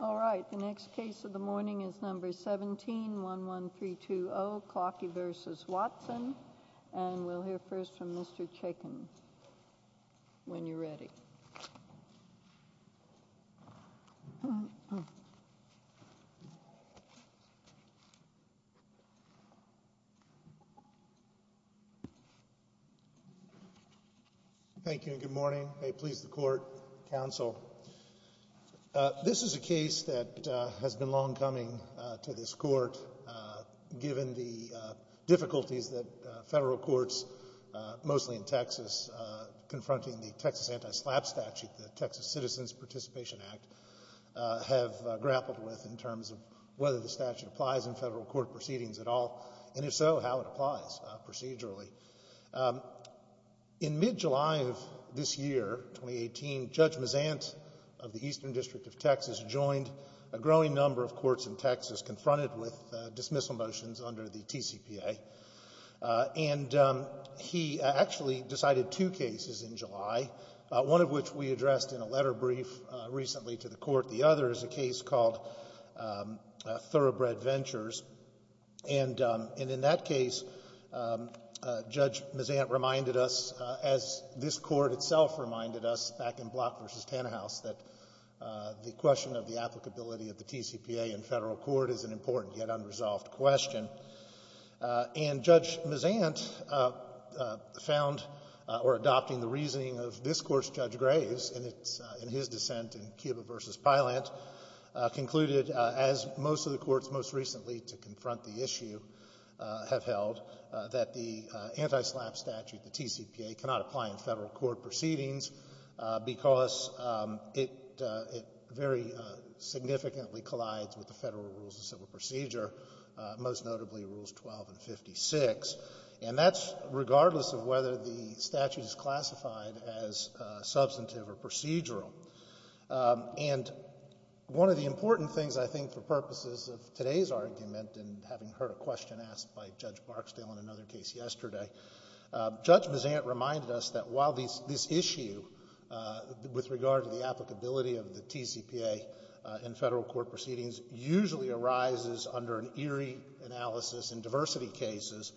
All right, the next case of the morning is number 17, 11320 Klocke v. Watson, and we'll hear first from Mr. Chaikin when you're ready. Thank you and good morning. May it please the court, counsel. This is a case that has been long coming to this court given the difficulties that federal courts, mostly in Texas, confronting the Texas Anti-SLAPP statute, the Texas Citizens Participation Act, have grappled with in terms of whether the statute applies in federal court proceedings at all, and if so, how it applies procedurally. In mid-July of this year, 2018, Judge Mazant of the Eastern District of Texas joined a growing number of courts in Texas confronted with dismissal motions under the TCPA, and he actually decided two cases in July, one of which we addressed in a letter brief recently to the Court. The other is a case called Thoroughbred Ventures, and in that case, Judge Mazant reminded us, as this Court itself reminded us back in Klocke v. Tannehaus, that the question of the applicability of the TCPA in federal court is an important yet unresolved question. And Judge Mazant found, or adopting the reasoning of this Court's Judge Graves in his dissent in Cuba v. Pylant, concluded, as most of the courts most recently to confront the issue have held, that the Anti-SLAPP statute, the TCPA, cannot apply in federal court proceedings because it very significantly collides with the federal rules of civil procedure, most notably Rules 12 and 56, and that's regardless of whether the statute is classified as substantive or procedural. And one of the important things, I think, for purposes of today's argument and having heard a question asked by Judge Barksdale in another case yesterday, Judge Mazant reminded us that while this issue, with regard to the applicability of the TCPA in federal court proceedings, usually arises under an Erie analysis in diversity cases,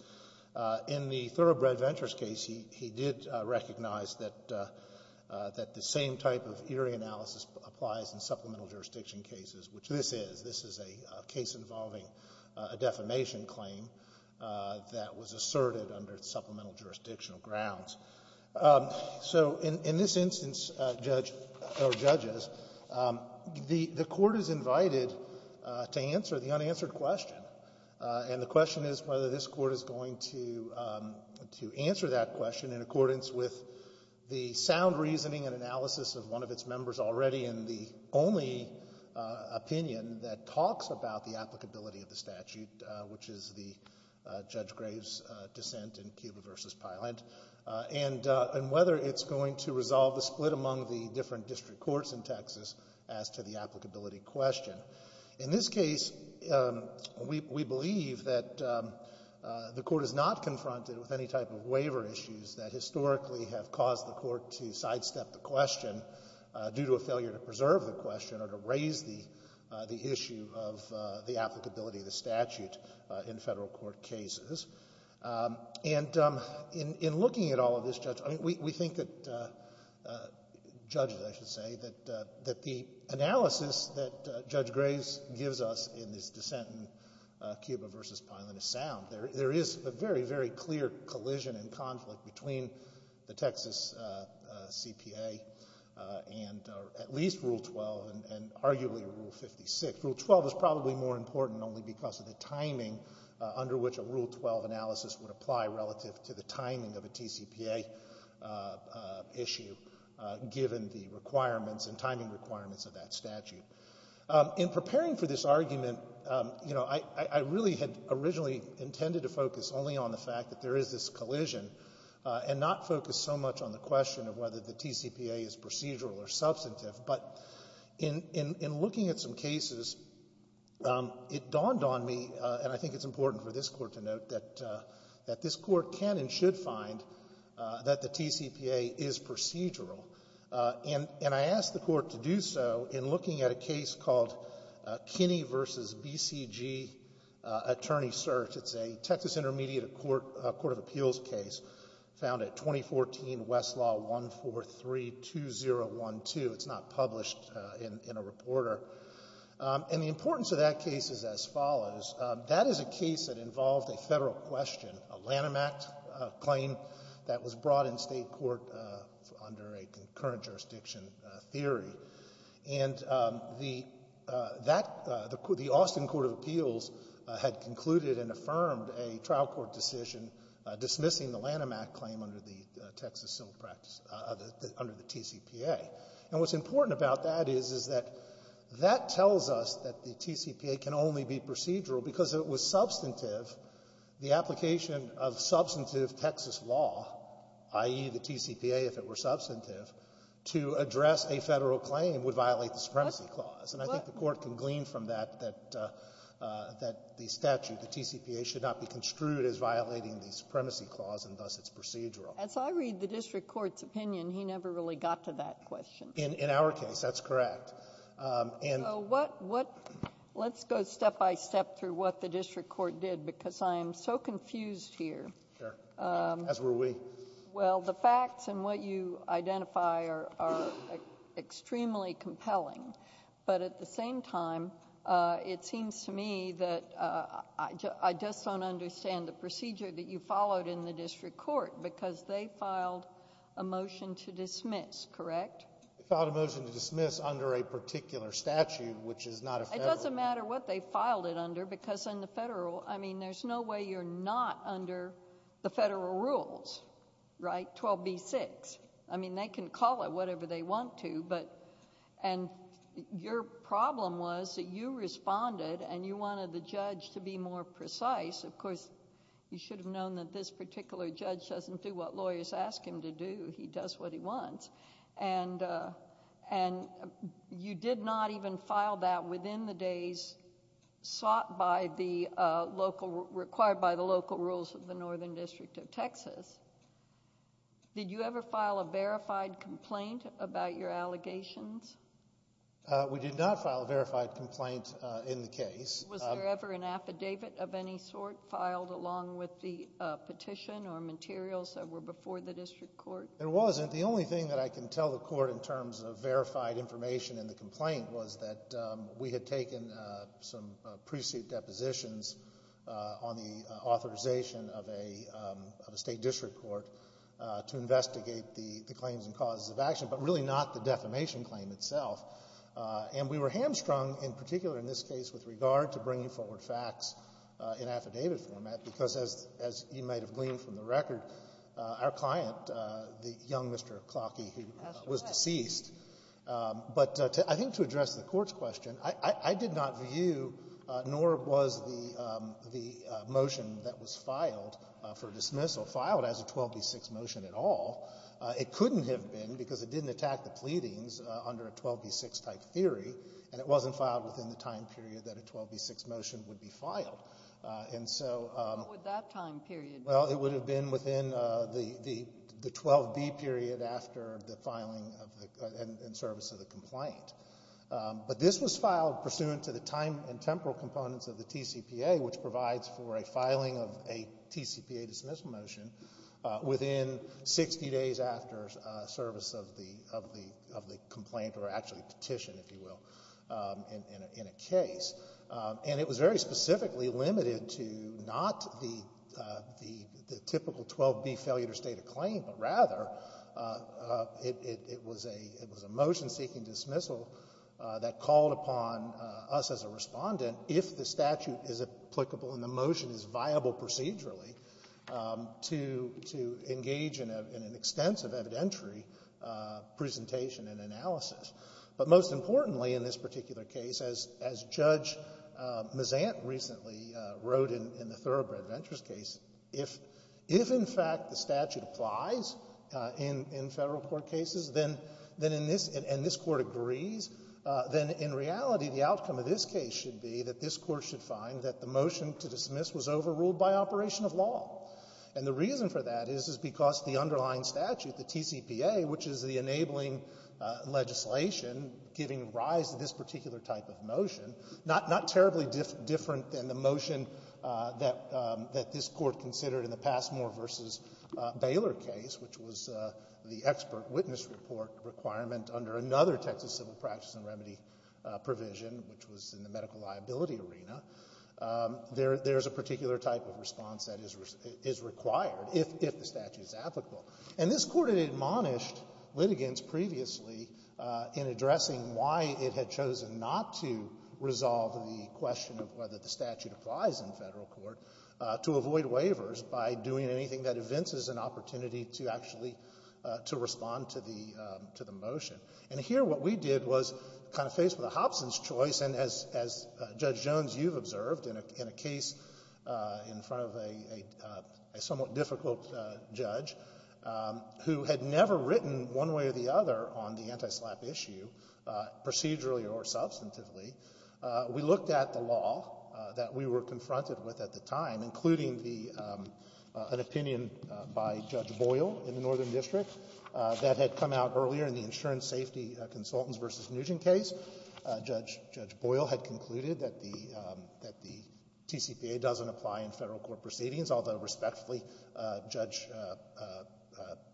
in the Thoroughbred Ventures case, he did recognize that the same type of Erie analysis applies in supplemental jurisdiction cases, which this is. This is a case involving a defamation claim that was asserted under supplemental jurisdictional grounds. So in this instance, Judge — or judges, the Court is invited to answer the unanswered question, and the question is whether this Court is going to answer that question in accordance with the sound reasoning and analysis of one of its members already and the only opinion that talks about the applicability of the statute, which is the Judge Graves' dissent in Cuba v. Pylent, and whether it's going to resolve the split among the different district courts in Texas as to the applicability question. In this case, we believe that the Court is not confronted with any type of waiver issues that historically have caused the Court to sidestep the question due to a failure to preserve the question or to raise the issue of the applicability of the statute in federal court cases. And in looking at all of this, Judge, we think that — judges, I should say — that the analysis that Judge Graves gives us in this dissent in Cuba v. Pylent is sound. There is a very, very clear collision and conflict between the Texas CPA and at least Rule 12 and arguably Rule 56. Rule 12 is probably more important only because of the timing under which a Rule 12 analysis would apply relative to the timing of a TCPA issue, given the requirements and timing requirements of that statute. In preparing for this argument, you know, I really had originally intended to focus only on the fact that there is this collision and not focus so much on the question of whether the TCPA is procedural or substantive. But in looking at some cases, it dawned on me — and I think it's important for this Court to note — that this Court can and should find that the TCPA is procedural. And I asked the Court to do so in looking at a case called Kinney v. BCG Attorney Search. It's a Texas Intermediate Court of Appeals case found at 2014 Westlaw 143-2012. It's not published in a reporter. And the importance of that case is as follows. That is a case that involved a Federal question, a Lanham Act claim that was brought in State Court under a concurrent jurisdiction theory. And the — that — the Austin Court of Appeals had concluded and affirmed a trial court decision dismissing the Lanham Act claim under the Texas Civil Practice — under the TCPA. And what's important about that is, is that that tells us that the TCPA can only be procedural because it was substantive — the application of substantive Texas law, i.e., the TCPA if it were substantive, to address a Federal claim would violate the supremacy clause. And I think the Court can glean from that that — that the statute, the TCPA, should not be construed as violating the supremacy clause, and thus it's procedural. As I read the district court's opinion, he never really got to that question. In — in our case, that's correct. And — So what — what — let's go step-by-step through what the district court did, because I am so confused here. Sure. As were we. Well, the facts and what you identify are — are extremely compelling. But at the same time, it seems to me that I just don't understand the procedure that you followed in the district court, because they filed a motion to dismiss, correct? They filed a motion to dismiss under a particular statute, which is not a Federal — It doesn't matter what they filed it under, because in the Federal — I mean, there's no way you're not under the Federal rules, right? 12b-6. I mean, they can call it whatever they want to, but — and your problem was that you responded and you wanted the judge to be more precise. Of course, you should have known that this particular judge doesn't do what lawyers ask him to do. He does what he wants. And — and you did not even file that within the days sought by the local — required by the local rules of the Northern District of Texas. Did you ever file a verified complaint about your allegations? We did not file a verified complaint in the case. Was there ever an affidavit of any sort filed along with the petition or materials that were before the district court? There wasn't. The only thing that I can tell the Court in terms of verified information in the complaint was that we had taken some pre-suit depositions on the authorization of a — of a state district court to investigate the claims and causes of action, but really not the defamation claim itself. And we were hamstrung in particular in this case with regard to bringing forward facts in affidavit format, because as — as you might have gleaned from the record, our client, the young Mr. Klocky, who was deceased. That's correct. But I think to address the Court's question, I — I did not view, nor was the — the motion that was filed for dismissal filed as a 12b-6 motion at all. It couldn't have been because it didn't attack the pleadings under a 12b-6-type theory, and it wasn't filed within the time period that a 12b-6 motion would be filed. And so — What would that time period be? Well, it would have been within the — the 12b period after the filing of the — in service of the complaint. But this was filed pursuant to the time and temporal components of the TCPA, which provides for a filing of a TCPA dismissal motion within 60 days after service of the — of the — of the complaint, or actually petition, if you will, in a — in a case. And it was very specifically limited to not the — the — the typical 12b failure to state a claim, but rather it — it was a — it was a motion seeking dismissal that called upon us as a respondent, if the statute is applicable and the motion is viable procedurally, to — to engage in an extensive evidentiary presentation and analysis. But most importantly in this particular case, as — as Judge Mazant recently wrote in the Thoroughbred Ventures case, if — if, in fact, the statute applies in — in Federal Court cases, then — then in this — and this Court agrees, then in reality, the outcome of this case should be that this Court should find that the motion to dismiss was overruled by operation of law. And the reason for that is, is because the underlying statute, the TCPA, which is the legislation giving rise to this particular type of motion, not — not terribly different than the motion that — that this Court considered in the Passmore v. Baylor case, which was the expert witness report requirement under another Texas civil practice and remedy provision, which was in the medical liability arena, there — there's a particular type of response that is — is required if — if the statute is applicable. And this Court had admonished litigants previously in addressing why it had chosen not to resolve the question of whether the statute applies in Federal Court, to avoid waivers by doing anything that evinces an opportunity to actually — to respond to the — to the motion. And here what we did was kind of faced with a Hobson's choice, and as — as Judge had never written one way or the other on the anti-SLAPP issue, procedurally or substantively, we looked at the law that we were confronted with at the time, including the — an opinion by Judge Boyle in the Northern District that had come out earlier in the insurance safety consultants v. Nugent case. Judge — Judge Boyle had concluded that the — that the TCPA doesn't apply in Federal Court.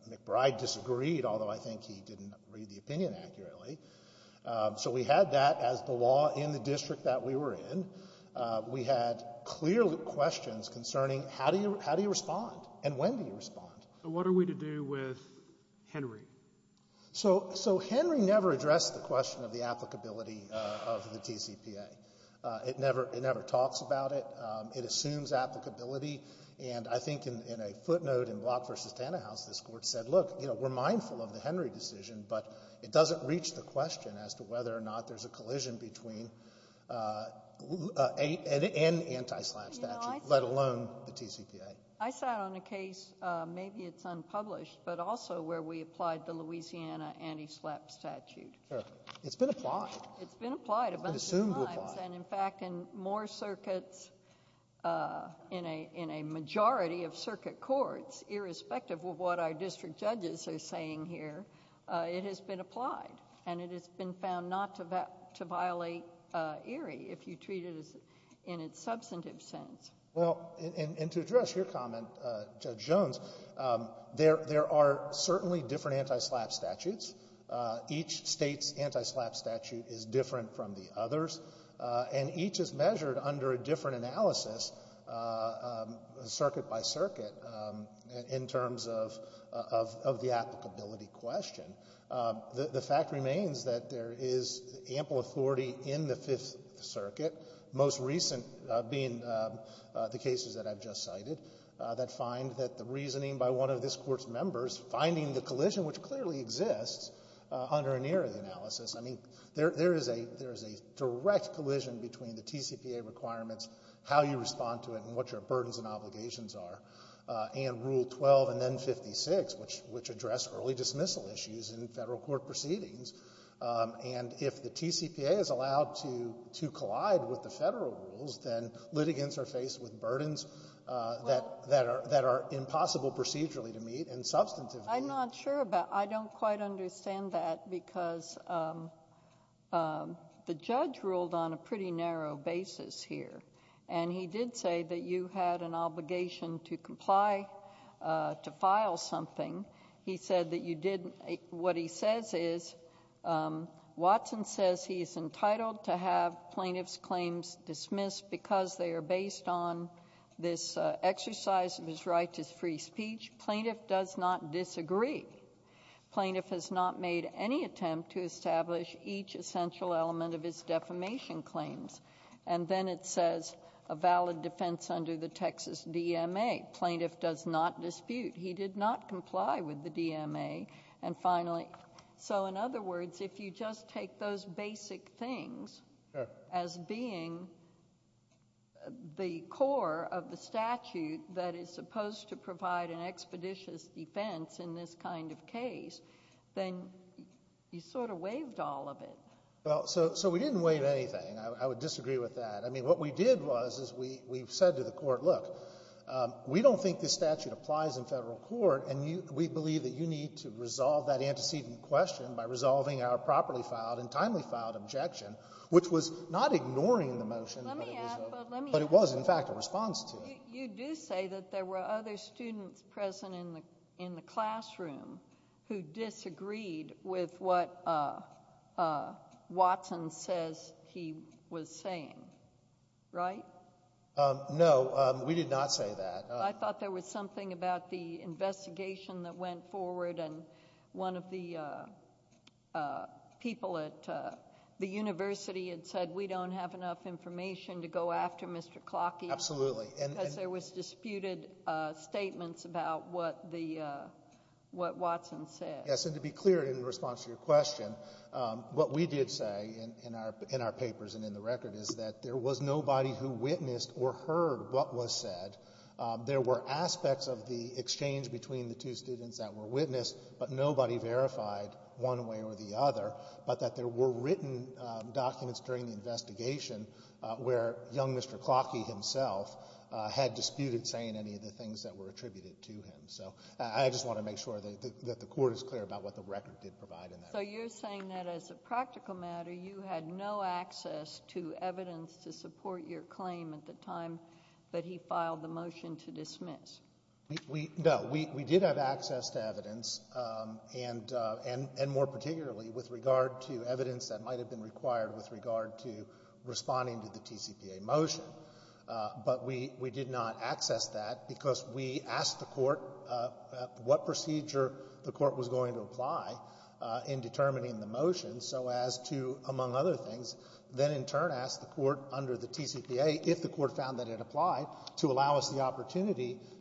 McBride disagreed, although I think he didn't read the opinion accurately. So we had that as the law in the district that we were in. We had clear questions concerning how do you — how do you respond and when do you respond. So what are we to do with Henry? So — so Henry never addressed the question of the applicability of the TCPA. It never — it never talks about it. It assumes applicability. And I think in — in a footnote in Block v. Tannehaus, this Court said, look, you know, we're mindful of the Henry decision, but it doesn't reach the question as to whether or not there's a collision between — and anti-SLAPP statute, let alone the TCPA. I sat on a case — maybe it's unpublished, but also where we applied the Louisiana anti-SLAPP statute. It's been applied. It's been applied a bunch of times. It's been assumed to apply. And in fact, in more circuits, in a majority of circuit courts, irrespective of what our district judges are saying here, it has been applied. And it has been found not to violate ERIE if you treat it in its substantive sense. Well, and to address your comment, Judge Jones, there are certainly different anti-SLAPP statutes. Each state's anti-SLAPP statute is different from the others. And each is measured under a different analysis, circuit by circuit, in terms of the applicability question. The fact remains that there is ample authority in the Fifth Circuit, most recent being the cases that I've just cited, that find that the reasoning by one of this Court's members finding the collision, which clearly exists under an ERIE analysis I mean, there is a direct collision between the TCPA requirements, how you respond to it, and what your burdens and obligations are, and Rule 12 and then 56, which address early dismissal issues in federal court proceedings. And if the TCPA is allowed to collide with the federal rules, then litigants are faced with burdens that are impossible procedurally to meet and substantively. I'm not sure about... I don't quite understand that because the judge ruled on a pretty narrow basis here. And he did say that you had an obligation to comply, to file something. He said that you didn't... what he says is, Watson says he is entitled to have plaintiff's claims dismissed because they are based on this exercise of his right to free speech. Plaintiff does not disagree. Plaintiff has not made any attempt to establish each essential element of his defamation claims. And then it says a valid defense under the Texas DMA. Plaintiff does not dispute. He did not comply with the DMA. And finally, so in other words, if you just take those basic things as being the core of the statute that is supposed to provide an expeditious defense in this kind of case, then you sort of waived all of it. Well, so we didn't waive anything. I would disagree with that. I mean, what we did was is we said to the court, look, we don't think this statute applies in federal court, and we believe that you need to resolve that antecedent question by resolving our properly filed and timely filed objection, which was not Let me add, but let me add... It was, in fact, a response to it. You do say that there were other students present in the classroom who disagreed with what Watson says he was saying, right? No, we did not say that. I thought there was something about the investigation that went forward, and one of the people at the university had said, we don't have enough information to go after Mr. Clockey. Absolutely. Because there was disputed statements about what Watson said. Yes, and to be clear in response to your question, what we did say in our papers and in the record is that there was nobody who witnessed or heard what was said. There were aspects of the exchange between the two students that were witnessed, but that there were written documents during the investigation where young Mr. Clockey himself had disputed saying any of the things that were attributed to him. So I just want to make sure that the court is clear about what the record did provide in that regard. So you're saying that as a practical matter, you had no access to evidence to support your claim at the time that he filed the motion to dismiss? No, we did have access to evidence and more particularly with regard to evidence that might have been required with regard to responding to the TCPA motion. But we did not access that because we asked the court what procedure the court was going to apply in determining the motion so as to, among other things, then in turn ask the court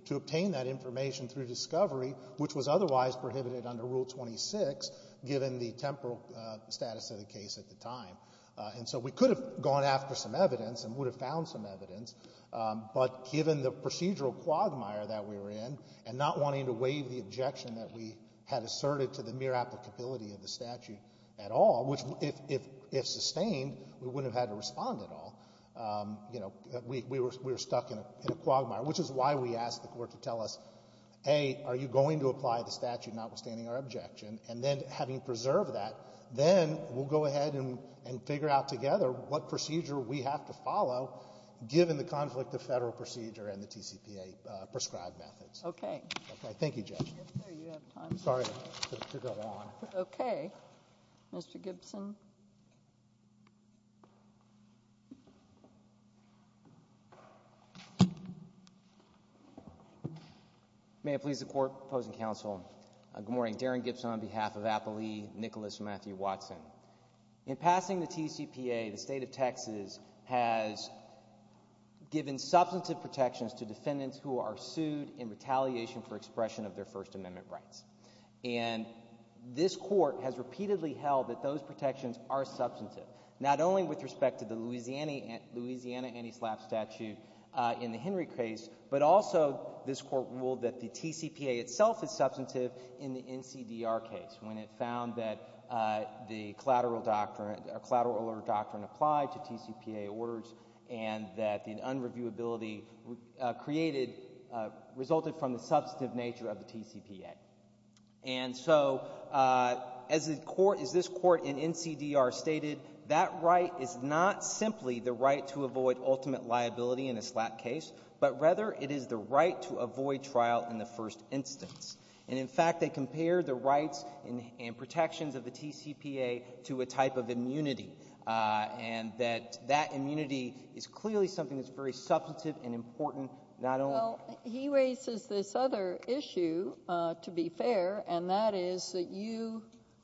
to obtain that information through discovery which was otherwise prohibited under Rule 26 given the temporal status of the case at the time. And so we could have gone after some evidence and would have found some evidence, but given the procedural quagmire that we were in and not wanting to waive the objection that we had asserted to the mere applicability of the statute at all, which if sustained, we wouldn't have had to respond at all, you know, we were stuck in a quagmire, which is why we asked the court to tell us, A, are you going to apply the statute notwithstanding our objection? And then having preserved that, then we'll go ahead and figure out together what procedure we have to follow given the conflict of Federal procedure and the TCPA prescribed methods. Okay. Okay. Thank you, Judge. Sorry to go on. Okay. Mr. Gibson. May it please the Court, opposing counsel. Good morning. Darren Gibson on behalf of Applee, Nicholas Matthew Watson. In passing the TCPA, the State of Texas has given substantive protections to defendants who are sued in retaliation for expression of their First Amendment rights. And this Court has repeatedly held that those protections are substantive, not only with also this Court ruled that the TCPA itself is substantive in the NCDR case when it found that the collateral doctrine, a collateral order doctrine applied to TCPA orders and that the unreviewability created, resulted from the substantive nature of the TCPA. And so, as the Court, as this Court in NCDR stated, that right is not simply the right to avoid ultimate liability in a SLAP case, but rather it is the right to avoid trial in the first instance. And in fact, they compare the rights and protections of the TCPA to a type of immunity, and that that immunity is clearly something that's very substantive and important, not only— Well, he raises this other issue, to be fair, and that is that you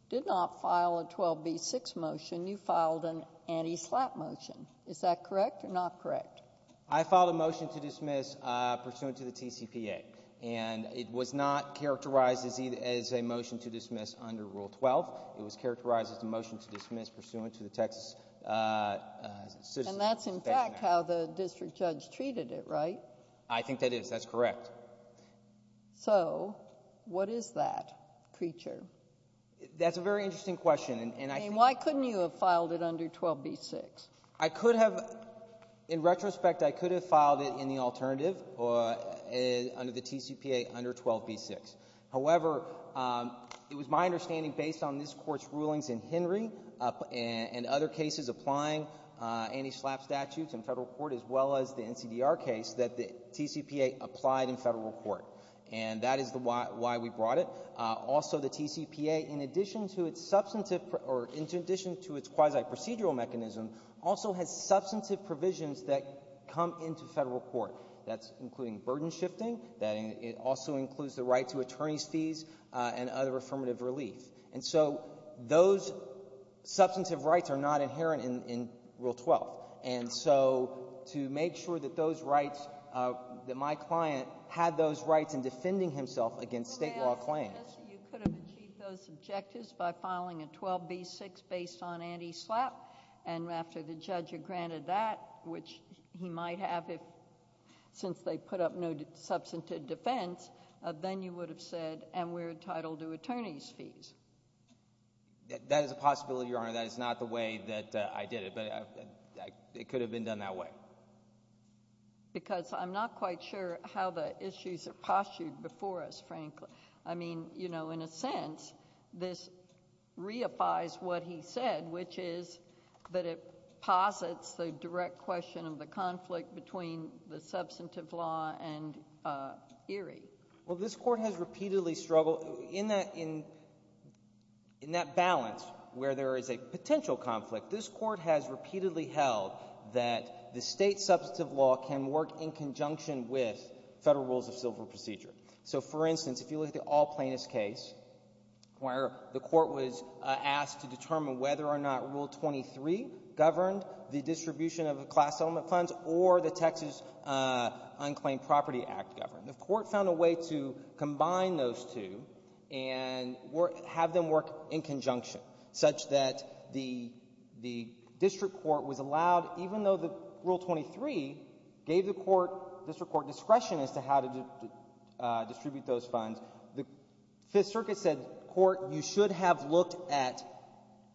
did not file a 12B6 motion. You filed an anti-SLAP motion. Is that correct or not correct? I filed a motion to dismiss pursuant to the TCPA, and it was not characterized as a motion to dismiss under Rule 12. It was characterized as a motion to dismiss pursuant to the Texas— And that's, in fact, how the district judge treated it, right? I think that is. That's correct. So, what is that creature? That's a very interesting question, and I think— Why couldn't you have filed it under 12B6? I could have. In retrospect, I could have filed it in the alternative under the TCPA under 12B6. However, it was my understanding, based on this Court's rulings in Henry and other cases applying anti-SLAP statutes in Federal court as well as the NCDR case, that the TCPA applied in Federal court. And that is why we brought it. Also, the TCPA, in addition to its substantive—or in addition to its quasi-procedural mechanism, also has substantive provisions that come into Federal court. That's including burden shifting. That also includes the right to attorney's fees and other affirmative relief. And so, those substantive rights are not inherent in Rule 12. And so, to make sure that those rights—that my client had those rights in defending himself against state law claims— You could have achieved those objectives by filing a 12B6 based on anti-SLAP. And after the judge had granted that, which he might have since they put up no substantive defense, then you would have said, and we're entitled to attorney's fees. That is a possibility, Your Honor. That is not the way that I did it. But it could have been done that way. Because I'm not quite sure how the issues are postured before us, frankly. I mean, you know, in a sense, this reifies what he said, which is that it posits the direct question of the conflict between the substantive law and Erie. Well, this Court has repeatedly struggled—in that balance where there is a potential conflict, this Court has repeatedly held that the state substantive law can work in conjunction with federal rules of civil procedure. So, for instance, if you look at the All Plaintiffs case, where the Court was asked to determine whether or not Rule 23 governed the distribution of the class element funds or the Texas Unclaimed Property Act governed. The Court found a way to combine those two and have them work in conjunction, such that the District Court was allowed, even though Rule 23 gave the District Court discretion as to how to distribute those funds, the Fifth Circuit said, Court, you should have looked at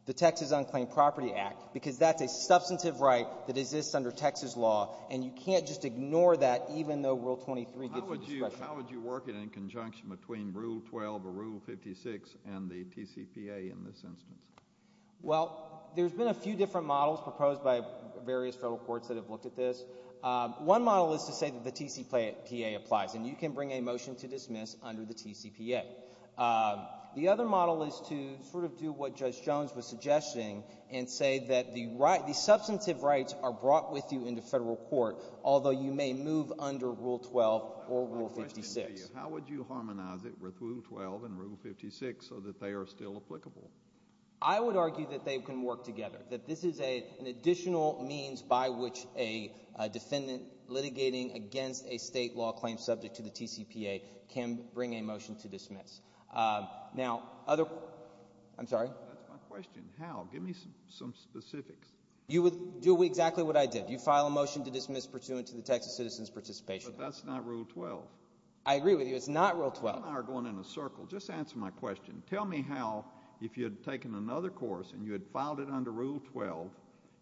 the Texas Unclaimed Property Act, because that's a substantive right that exists under Texas law, and you can't just ignore that even though Rule 23 gives you discretion. How would you work it in conjunction between Rule 12 or Rule 56 and the TCPA in this instance? Well, there's been a few different models proposed by various federal courts that have looked at this. One model is to say that the TCPA applies, and you can bring a motion to dismiss under the TCPA. The other model is to sort of do what Judge Jones was suggesting and say that the substantive rights are brought with you into federal court, although you may move under Rule 12 or Rule 56. How would you harmonize it with Rule 12 and Rule 56 so that they are still applicable? I would argue that they can work together, that this is an additional means by which a defendant litigating against a state law claim subject to the TCPA can bring a motion to dismiss. Now, other... I'm sorry? That's my question. How? Give me some specifics. You would do exactly what I did. You file a motion to dismiss pursuant to the Texas Citizens Participation Act. But that's not Rule 12. I agree with you. It's not Rule 12. You and I are going in a circle. Just answer my question. Tell me how, if you had taken another course and you had filed it under Rule 12,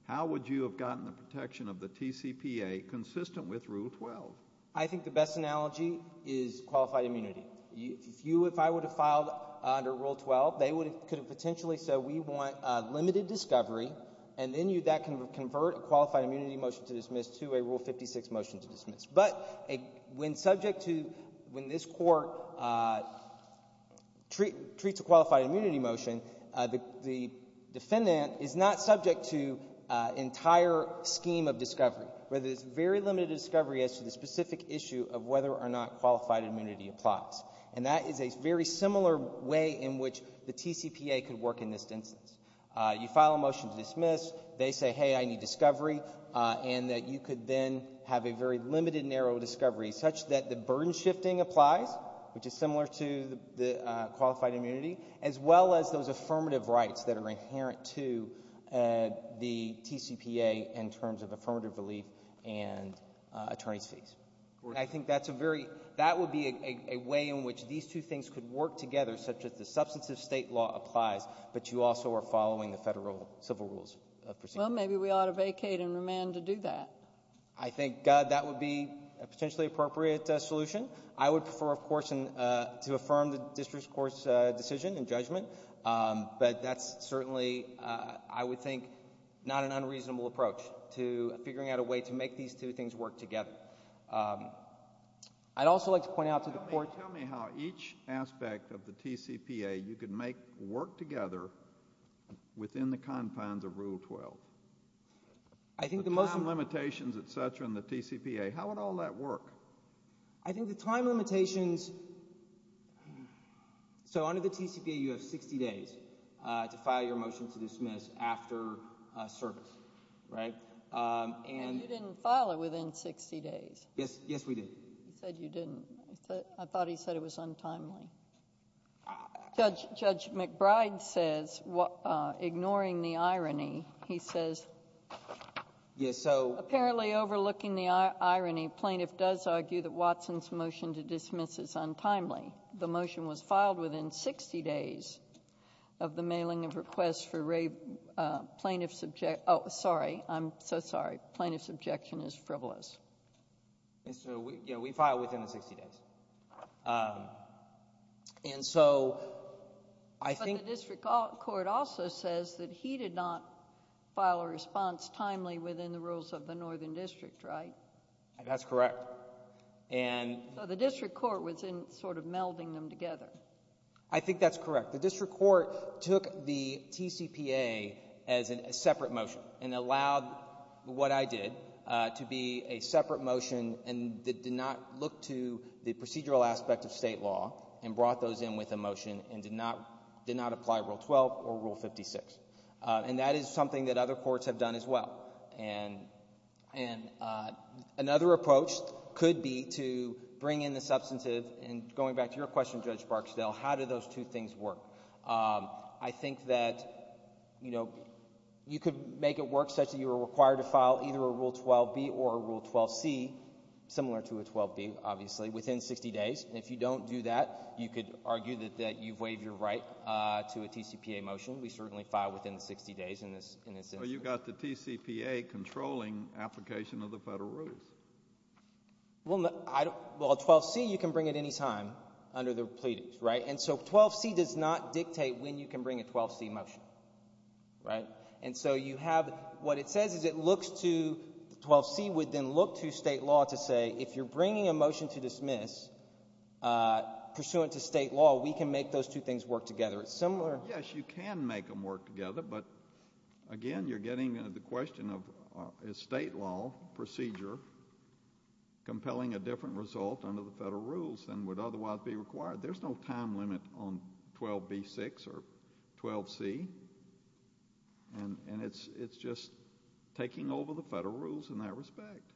how would you have gotten the protection of the TCPA consistent with Rule 12? I think the best analogy is qualified immunity. If I would have filed under Rule 12, they could have potentially said, we want limited discovery, and then that can convert a qualified immunity motion to dismiss to a Rule 56 motion to dismiss. But when subject to... When this Court treats a qualified immunity motion, the defendant is not subject to an entire scheme of discovery, where there's very limited discovery as to the specific issue of whether or not qualified immunity applies. And that is a very similar way in which the TCPA could work in this instance. You file a motion to dismiss. They say, hey, I need discovery, and that you could then have a very limited narrow discovery such that the burden shifting applies, which is similar to the qualified immunity, as well as those affirmative rights that are inherent to the TCPA in terms of affirmative relief and attorney's fees. I think that's a very... That would be a way in which these two things could work together, such as the substantive state law applies, but you also are following the federal civil rules. Well, maybe we ought to vacate and remand to do that. I think that would be a potentially appropriate solution. I would prefer, of course, to affirm the district court's decision and judgment, but that's certainly, I would think, not an unreasonable approach to figuring out a way to make these two things work together. I'd also like to point out to the Court... Tell me how each aspect of the TCPA you could make work together within the confines of the bill, the time limitations, et cetera, in the TCPA. How would all that work? I think the time limitations... So under the TCPA, you have 60 days to file your motion to dismiss after service, right? And you didn't file it within 60 days. Yes, we did. You said you didn't. I thought he said it was untimely. Judge McBride says, ignoring the irony, he says... Yes, so... Apparently, overlooking the irony, plaintiff does argue that Watson's motion to dismiss is untimely. The motion was filed within 60 days of the mailing of requests for plaintiff's objection... Oh, sorry. I'm so sorry. Plaintiff's objection is frivolous. And so we filed within the 60 days. And so I think... But the District Court also says that he did not file a response timely within the rules of the Northern District, right? That's correct. And... So the District Court was in sort of melding them together. I think that's correct. The District Court took the TCPA as a separate motion and allowed what I did to be a separate motion and did not look to the procedural aspect of state law and brought those in with a motion and did not apply Rule 12 or Rule 56. And that is something that other courts have done as well. And another approach could be to bring in the substantive and going back to your question, Judge Barksdale, how do those two things work? I think that, you know, you could make it work such that you were required to file either Rule 12B or Rule 12C, similar to a 12B, obviously, within 60 days. And if you don't do that, you could argue that you've waived your right to a TCPA motion. We certainly filed within the 60 days in this instance. Well, you've got the TCPA controlling application of the federal rules. Well, a 12C, you can bring at any time under the pleadings, right? And so 12C does not dictate when you can bring a 12C motion, right? And so you have, what it says is it looks to, 12C would then look to state law to say, if you're bringing a motion to dismiss pursuant to state law, we can make those two things work together. It's similar. Yes, you can make them work together. But again, you're getting the question of, is state law procedure compelling a different result under the federal rules than would otherwise be required? There's no time limit on 12B6 or 12C, and it's just taking over the federal rules in that respect.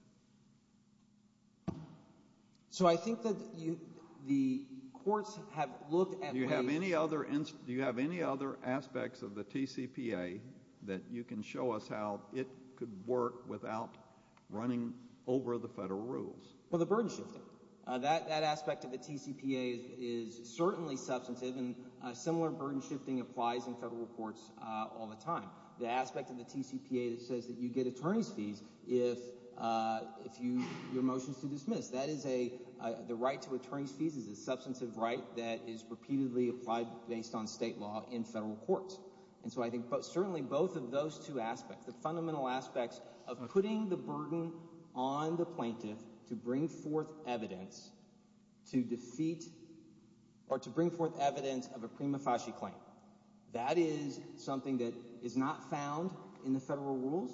So I think that the courts have looked at ways— Do you have any other aspects of the TCPA that you can show us how it could work without running over the federal rules? Well, the burden shifting. That aspect of the TCPA is certainly substantive, and similar burden shifting applies in federal courts all the time. The aspect of the TCPA that says that you get attorney's fees if your motion is to dismiss, that is a—the right to attorney's fees is a substantive right that is repeatedly applied based on state law in federal courts. And so I think certainly both of those two aspects, the fundamental aspects of putting the burden on the plaintiff to bring forth evidence to defeat—or to bring forth evidence of a prima facie claim. That is something that is not found in the federal rules,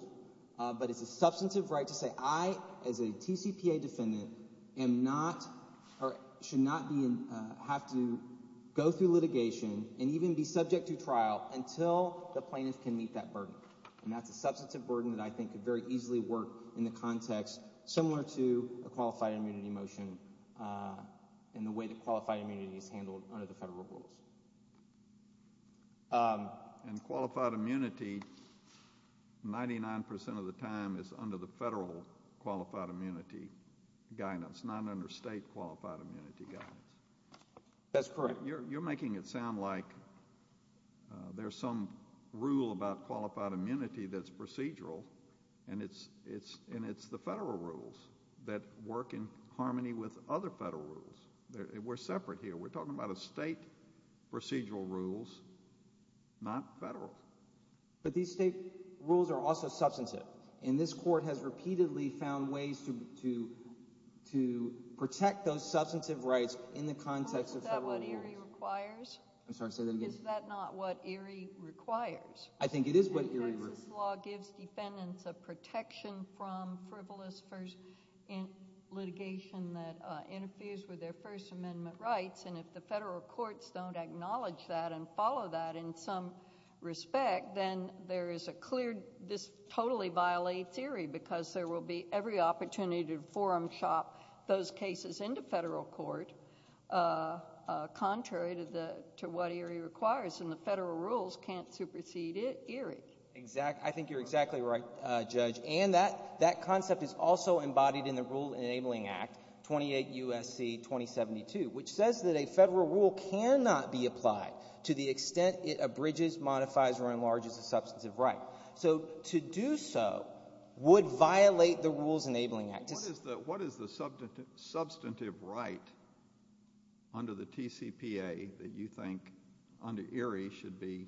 but it's a substantive right to say, I, as a TCPA defendant, am not—or should not be—have to go through litigation and even be subject to trial until the plaintiff can meet that burden. And that's a substantive burden that I think could very easily work in the context similar to a qualified immunity motion in the way that qualified immunity is handled under the federal rules. And qualified immunity, 99% of the time, is under the federal qualified immunity guidance, not under state qualified immunity guidance. That's correct. You're making it sound like there's some rule about qualified immunity that's procedural and it's the federal rules that work in harmony with other federal rules. We're separate here. We're talking about a state procedural rules, not federal. But these state rules are also substantive. And this court has repeatedly found ways to protect those substantive rights in the context of federal rules. Is that what ERIE requires? I'm sorry, say that again. Is that not what ERIE requires? I think it is what ERIE requires. The Texas law gives defendants a protection from frivolous first litigation that interferes with their First Amendment rights. And if the federal courts don't acknowledge that and follow that in some respect, then there is a clear—this totally violates ERIE because there will be every opportunity to contrary to what ERIE requires. And the federal rules can't supersede ERIE. I think you're exactly right, Judge. And that concept is also embodied in the Rule Enabling Act, 28 U.S.C. 2072, which says that a federal rule cannot be applied to the extent it abridges, modifies, or enlarges a substantive right. So to do so would violate the Rules Enabling Act. What is the substantive right under the TCPA that you think under ERIE should be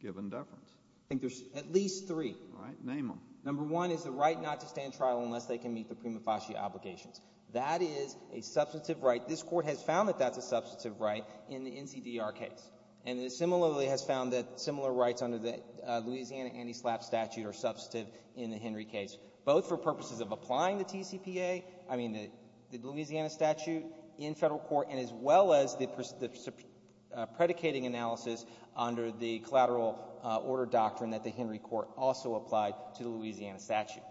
given deference? I think there's at least three. All right, name them. Number one is the right not to stand trial unless they can meet the prima facie obligations. That is a substantive right. This Court has found that that's a substantive right in the NCDR case. And it similarly has found that similar rights under the Louisiana anti-SLAPP statute are applying to the TCPA, I mean the Louisiana statute in federal court, and as well as the predicating analysis under the collateral order doctrine that the Henry Court also applied to the Louisiana statute.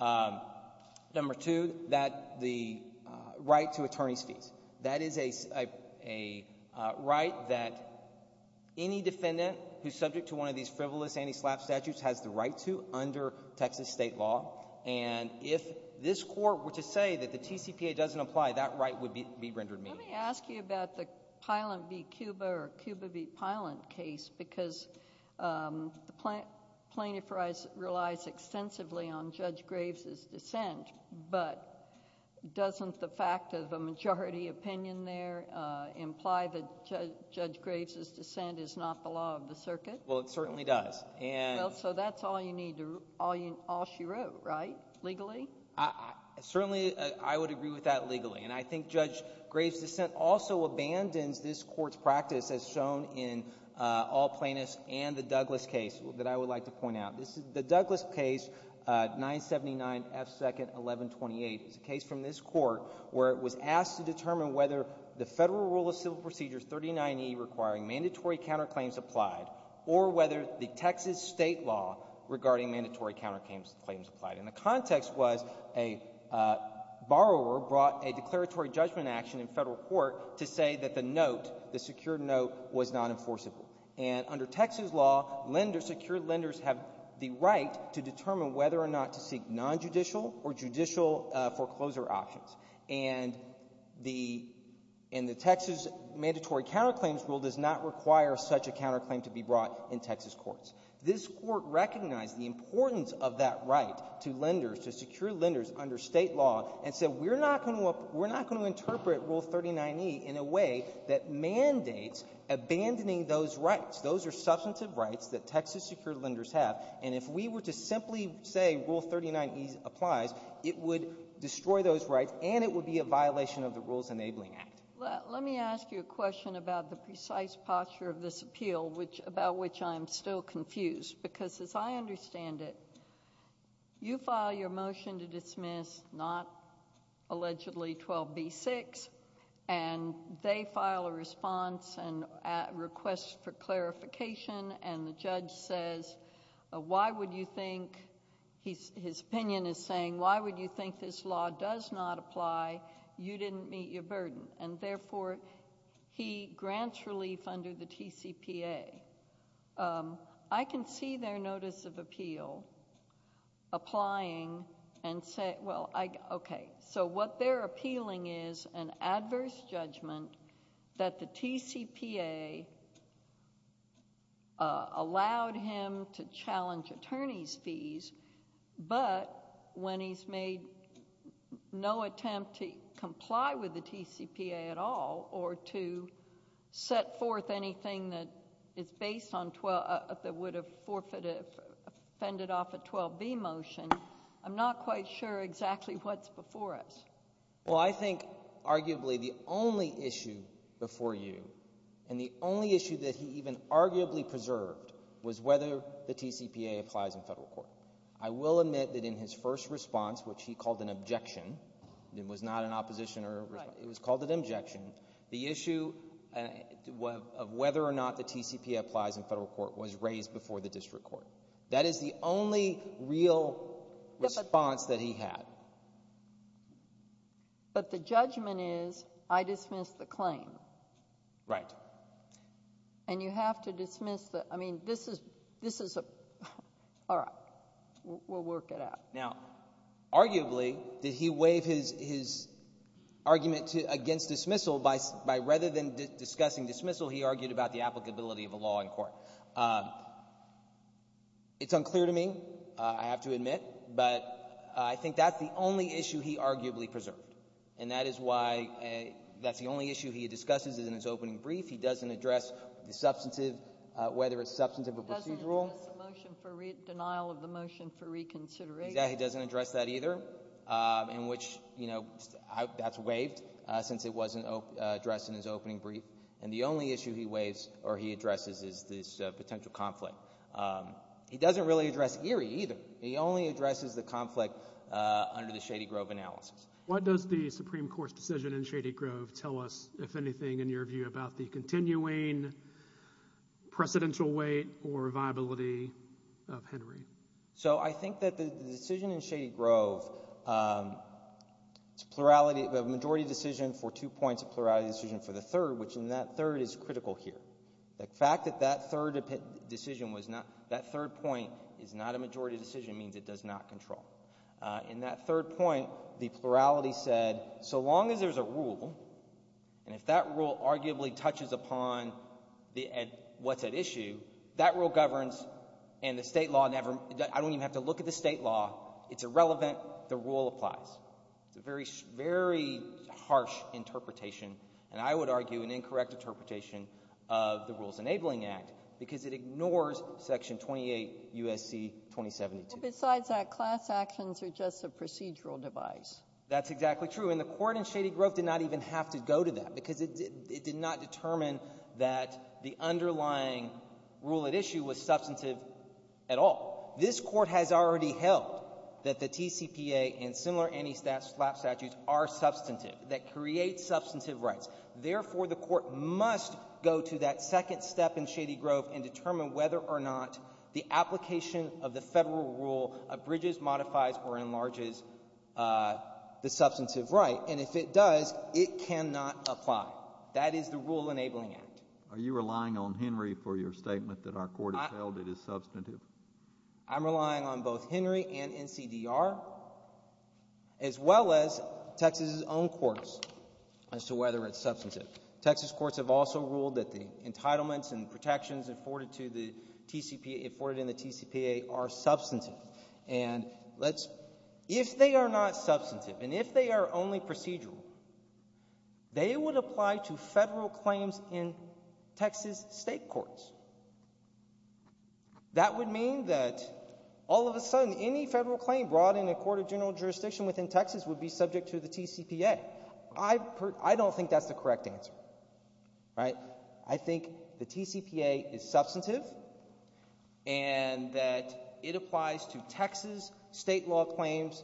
Number two, that the right to attorney's fees. That is a right that any defendant who's subject to one of these frivolous anti-SLAPP statutes has the right to under Texas state law. And if this Court were to say that the TCPA doesn't apply, that right would be rendered meaningless. Let me ask you about the Pilant v. Cuba or Cuba v. Pilant case because the plaintiff relies extensively on Judge Graves' dissent. But doesn't the fact of the majority opinion there imply that Judge Graves' dissent is not the law of the circuit? Well, it certainly does. Well, so that's all you need, all she wrote, right? Legally? Certainly, I would agree with that legally. And I think Judge Graves' dissent also abandons this Court's practice as shown in all plaintiffs and the Douglas case that I would like to point out. This is the Douglas case 979 F. 2nd 1128. It's a case from this Court where it was asked to determine whether the federal rule of civil or whether the Texas state law regarding mandatory counterclaims applied. And the context was a borrower brought a declaratory judgment action in federal court to say that the note, the secured note, was not enforceable. And under Texas law, secure lenders have the right to determine whether or not to seek nonjudicial or judicial foreclosure options. And the Texas mandatory counterclaims rule does not require such a counterclaim to be brought in Texas courts. This Court recognized the importance of that right to lenders, to secure lenders under state law, and said we're not going to interpret Rule 39E in a way that mandates abandoning those rights. Those are substantive rights that Texas secured lenders have. And if we were to simply say Rule 39E applies, it would destroy those rights and it would be a violation of the Rules Enabling Act. Let me ask you a question about the precise posture of this appeal, about which I am still confused. Because as I understand it, you file your motion to dismiss, not allegedly 12B6, and they file a response and request for clarification. And the judge says, why would you think, his opinion is saying, why would you think this law does not apply? You didn't meet your burden. And therefore, he grants relief under the TCPA. I can see their notice of appeal applying and say, well, okay, so what they're appealing is an adverse judgment that the TCPA allowed him to challenge attorney's fees, but when he's made no attempt to comply with the TCPA at all or to set forth anything that is based on 12, that would have forfeited, fended off a 12B motion, I'm not quite sure exactly what's before us. Well, I think arguably the only issue before you and the only issue that he even arguably preserved was whether the TCPA applies in federal court. I will admit that in his first response, which he called an objection, it was not an opposition or a response, it was called an objection. The issue of whether or not the TCPA applies in federal court was raised before the district court. That is the only real response that he had. But the judgment is, I dismiss the claim. Right. And you have to dismiss the, I mean, this is a, all right, we'll work it out. Now, arguably, did he waive his argument against dismissal by rather than discussing dismissal, he argued about the applicability of a law in court. It's unclear to me, I have to admit, but I think that's the only issue he arguably preserved. And that is why that's the only issue he discusses in his opening brief. He doesn't address the substantive, whether it's substantive or procedural. Doesn't address the motion for denial of the motion for reconsideration. Yeah, he doesn't address that either, in which, you know, that's waived since it wasn't addressed in his opening brief. And the only issue he waives or he addresses is this potential conflict. He doesn't really address Erie either. He only addresses the conflict under the Shady Grove analysis. What does the Supreme Court's decision in Shady Grove tell us, if anything, in your view about the continuing precedential weight or viability of Henry? So I think that the decision in Shady Grove, it's a plurality, a majority decision for two points, a plurality decision for the third, which in that third is critical here. The fact that that third decision was not, that third point is not a majority decision means it does not control. In that third point, the plurality said, so long as there's a rule, and if that rule arguably touches upon what's at issue, that rule governs and the state law never, I don't even have to look at the state law, it's irrelevant, the rule applies. It's a very, very harsh interpretation, and I would argue an incorrect interpretation of the Rules Enabling Act because it ignores Section 28 U.S.C. 2072. Well, besides that, class actions are just a procedural device. That's exactly true. And the Court in Shady Grove did not even have to go to that because it did not determine that the underlying rule at issue was substantive at all. This Court has already held that the TCPA and similar anti-slap statutes are substantive, that create substantive rights. Therefore, the Court must go to that second step in Shady Grove and determine whether or not the application of the federal rule abridges, modifies, or enlarges the substantive right, and if it does, it cannot apply. That is the Rule Enabling Act. Are you relying on Henry for your statement that our Court has held it is substantive? I'm relying on both Henry and NCDR as well as Texas' own courts as to whether it's substantive. Texas courts have also ruled that the entitlements and protections afforded in the TCPA are substantive, and if they are not substantive and if they are only procedural, they would apply to federal claims in Texas state courts. That would mean that all of a sudden any federal claim brought in a court of general jurisdiction within Texas would be subject to the TCPA. I don't think that's the correct answer. I think the TCPA is substantive and that it applies to Texas state law claims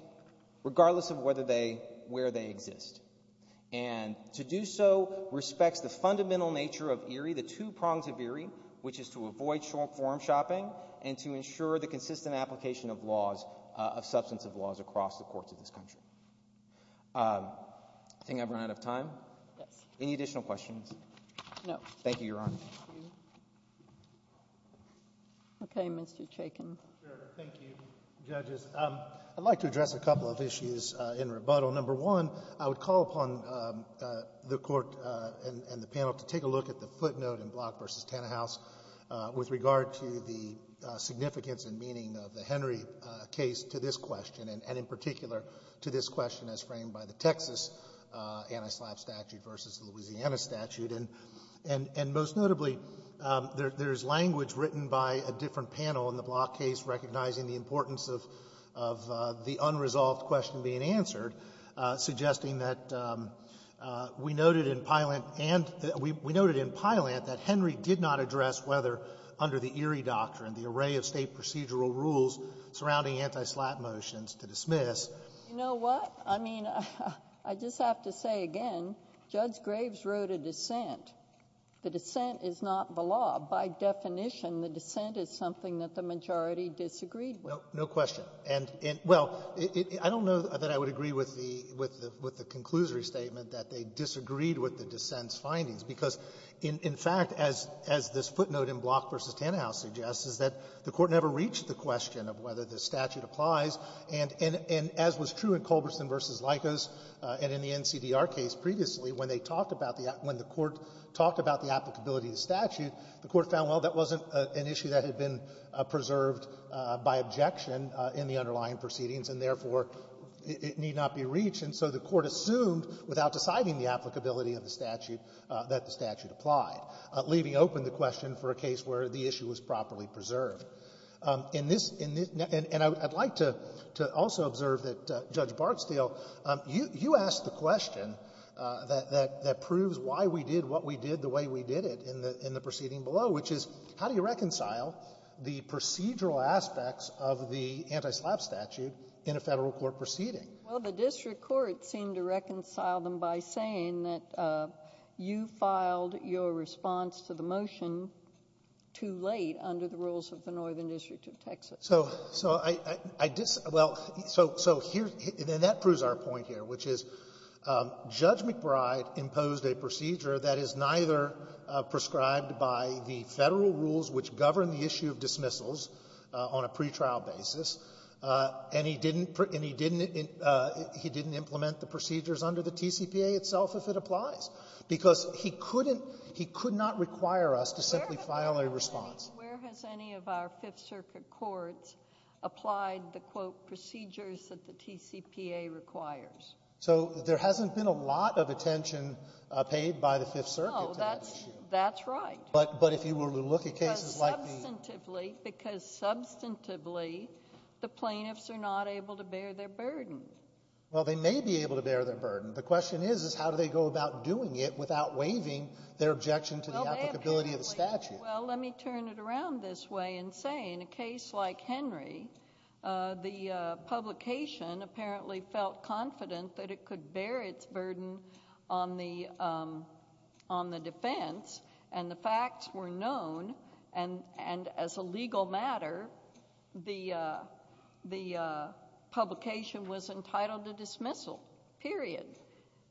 regardless of whether they, where they exist. And to do so respects the fundamental nature of ERIE, the two prongs of ERIE, which is to avoid short-form shopping and to ensure the consistent application of laws, of substantive laws across the courts of this country. I think I've run out of time. Yes. Any additional questions? No. Thank you, Your Honor. Okay, Mr. Chaykin. Sure. Thank you, Judges. I'd like to address a couple of issues in rebuttal. Number one, I would call upon the Court and the panel to take a look at the footnote in with regard to the significance and meaning of the Henry case to this question and in particular to this question as framed by the Texas anti-SLAPP statute versus the Louisiana statute. And most notably, there's language written by a different panel in the Block case recognizing the importance of the unresolved question being answered, suggesting that we noted in Piland that Henry did not address whether under the ERIE doctrine the array of state procedural rules surrounding anti-SLAPP motions to dismiss. You know what? I mean, I just have to say again, Judge Graves wrote a dissent. The dissent is not the law. By definition, the dissent is something that the majority disagreed with. No question. Well, I don't know that I would agree with the conclusory statement that they disagreed with the dissent's findings. Because in fact, as this footnote in Block v. Tannehaus suggests, is that the Court never reached the question of whether the statute applies. And as was true in Culberson v. Likos and in the NCDR case previously, when they talked about the act, when the Court talked about the applicability of the statute, the Court found, well, that wasn't an issue that had been preserved by objection in the underlying proceedings, and therefore, it need not be reached. And so the Court assumed, without deciding the applicability of the statute, that the statute applied, leaving open the question for a case where the issue was properly preserved. In this — and I'd like to also observe that, Judge Bartsdale, you asked the question that proves why we did what we did the way we did it in the proceeding below, which is, how do you reconcile the procedural aspects of the anti-SLAPP statute in a Federal court proceeding? Well, the district court seemed to reconcile them by saying that you filed your response to the motion too late under the rules of the Northern District of Texas. So I — well, so here — and that proves our point here, which is Judge McBride imposed a procedure that is neither prescribed by the Federal rules which govern the issue of dismissals on a pretrial basis, and he didn't — and he didn't — he didn't implement the procedures under the TCPA itself if it applies, because he couldn't — he could not require us to simply file a response. Where has any — where has any of our Fifth Circuit courts applied the, quote, procedures that the TCPA requires? So there hasn't been a lot of attention paid by the Fifth Circuit to that issue. No, that's — that's right. But — but if you were to look at cases like the — Because substantively — because substantively the plaintiffs are not able to bear their burden. Well, they may be able to bear their burden. The question is, is how do they go about doing it without waiving their objection to the applicability of the statute? Well, let me turn it around this way and say, in a case like Henry, the publication apparently felt confident that it could bear its burden on the — on the defense, and the facts were known, and — and as a legal matter, the — the publication was entitled to dismissal, period.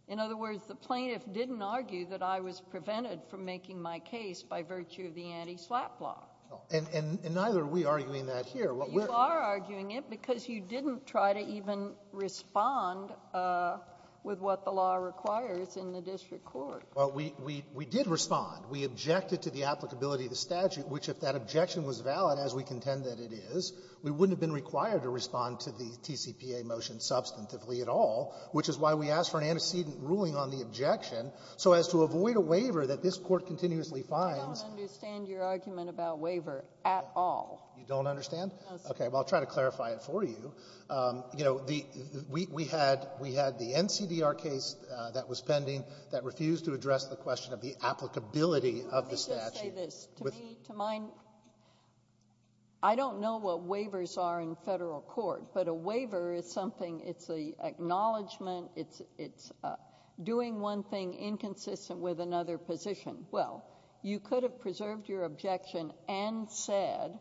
In other words, the plaintiff didn't argue that I was prevented from making my case by virtue of the anti-SLAPP law. And — and neither are we arguing that here. You are arguing it because you didn't try to even respond with what the law requires in the district court. Well, we — we — we did respond. We objected to the applicability of the statute, which, if that objection was valid, as we contend that it is, we wouldn't have been required to respond to the TCPA motion substantively at all, which is why we asked for an antecedent ruling on the objection so as to avoid a waiver that this Court continuously fines. I don't understand your argument about waiver at all. You don't understand? OK. Well, I'll try to clarify it for you. You know, the — we — we had — we had the NCDR case that was pending that refused to address the question of the applicability of the statute. Let me just say this. To me — to mine — I don't know what waivers are in federal court, but a waiver is something — it's an acknowledgment, it's — it's doing one thing inconsistent with another position. Well, you could have preserved your objection and said,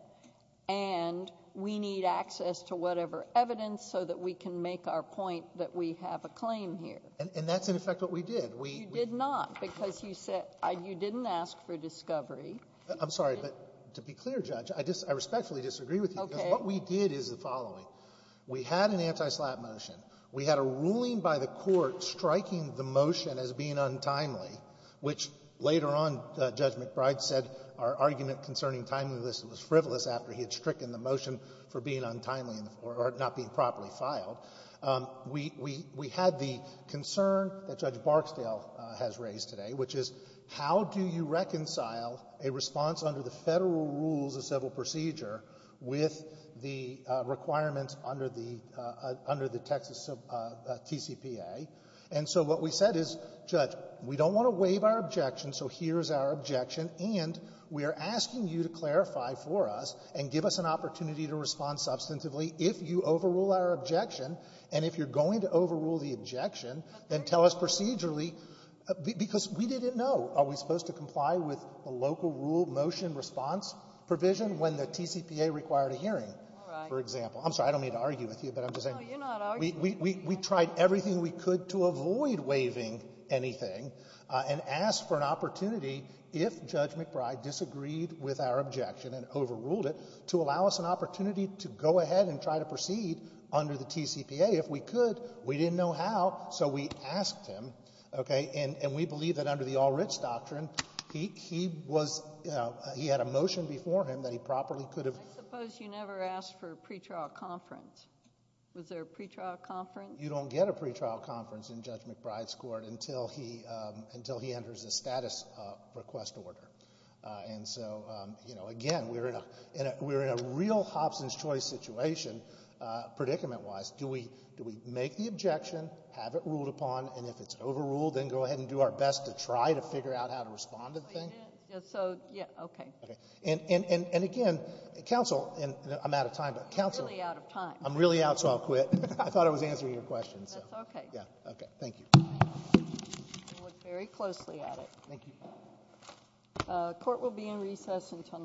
and we need access to whatever evidence so that we can make our point that we have a claim here. And — and that's, in effect, what we did. We — You did not, because you said — you didn't ask for discovery. I'm sorry, but to be clear, Judge, I respectfully disagree with you. Okay. Because what we did is the following. We had an anti-SLAPP motion. We had a ruling by the Court striking the motion as being untimely, which later on, Judge McBride said our argument concerning timeliness was frivolous after he had stricken the motion for being untimely or not being properly filed. We — we had the concern that Judge Barksdale has raised today, which is, how do you reconcile a response under the federal rules of civil procedure with the requirements under the — under the Texas TCPA? And so what we said is, Judge, we don't want to waive our objection, so here's our objection, and we are asking you to clarify for us and give us an opportunity to respond substantively if you overrule our objection, and if you're going to overrule the objection, then tell us procedurally, because we didn't know. Are we supposed to comply with the local rule motion response provision when the TCPA required a hearing, for example? All right. I'm sorry. I don't mean to argue with you, but I'm just saying — No, you're not arguing. We tried everything we could to avoid waiving anything and asked for an opportunity if Judge McBride disagreed with our objection and overruled it to allow us an opportunity to go ahead and try to proceed under the TCPA. If we could, we didn't know how, so we asked him, okay? And we believe that under the All-Rich Doctrine, he was — he had a motion before him that he properly could have — I suppose you never asked for a pretrial conference. Was there a pretrial conference? You don't get a pretrial conference in Judge McBride's court until he enters a status request order. And so, you know, again, we're in a real Hobson's Choice situation, predicament-wise. Do we make the objection, have it ruled upon, and if it's overruled, then go ahead and do our best to try to figure out how to respond to the thing? It is. So, yeah, okay. Okay. And again, counsel — and I'm out of time, but counsel — You're really out of time. I'm really out, so I'll quit. I thought I was answering your question, so. That's okay. Yeah. Okay. Thank you. We'll look very closely at it. Thank you. Court will be in recess until —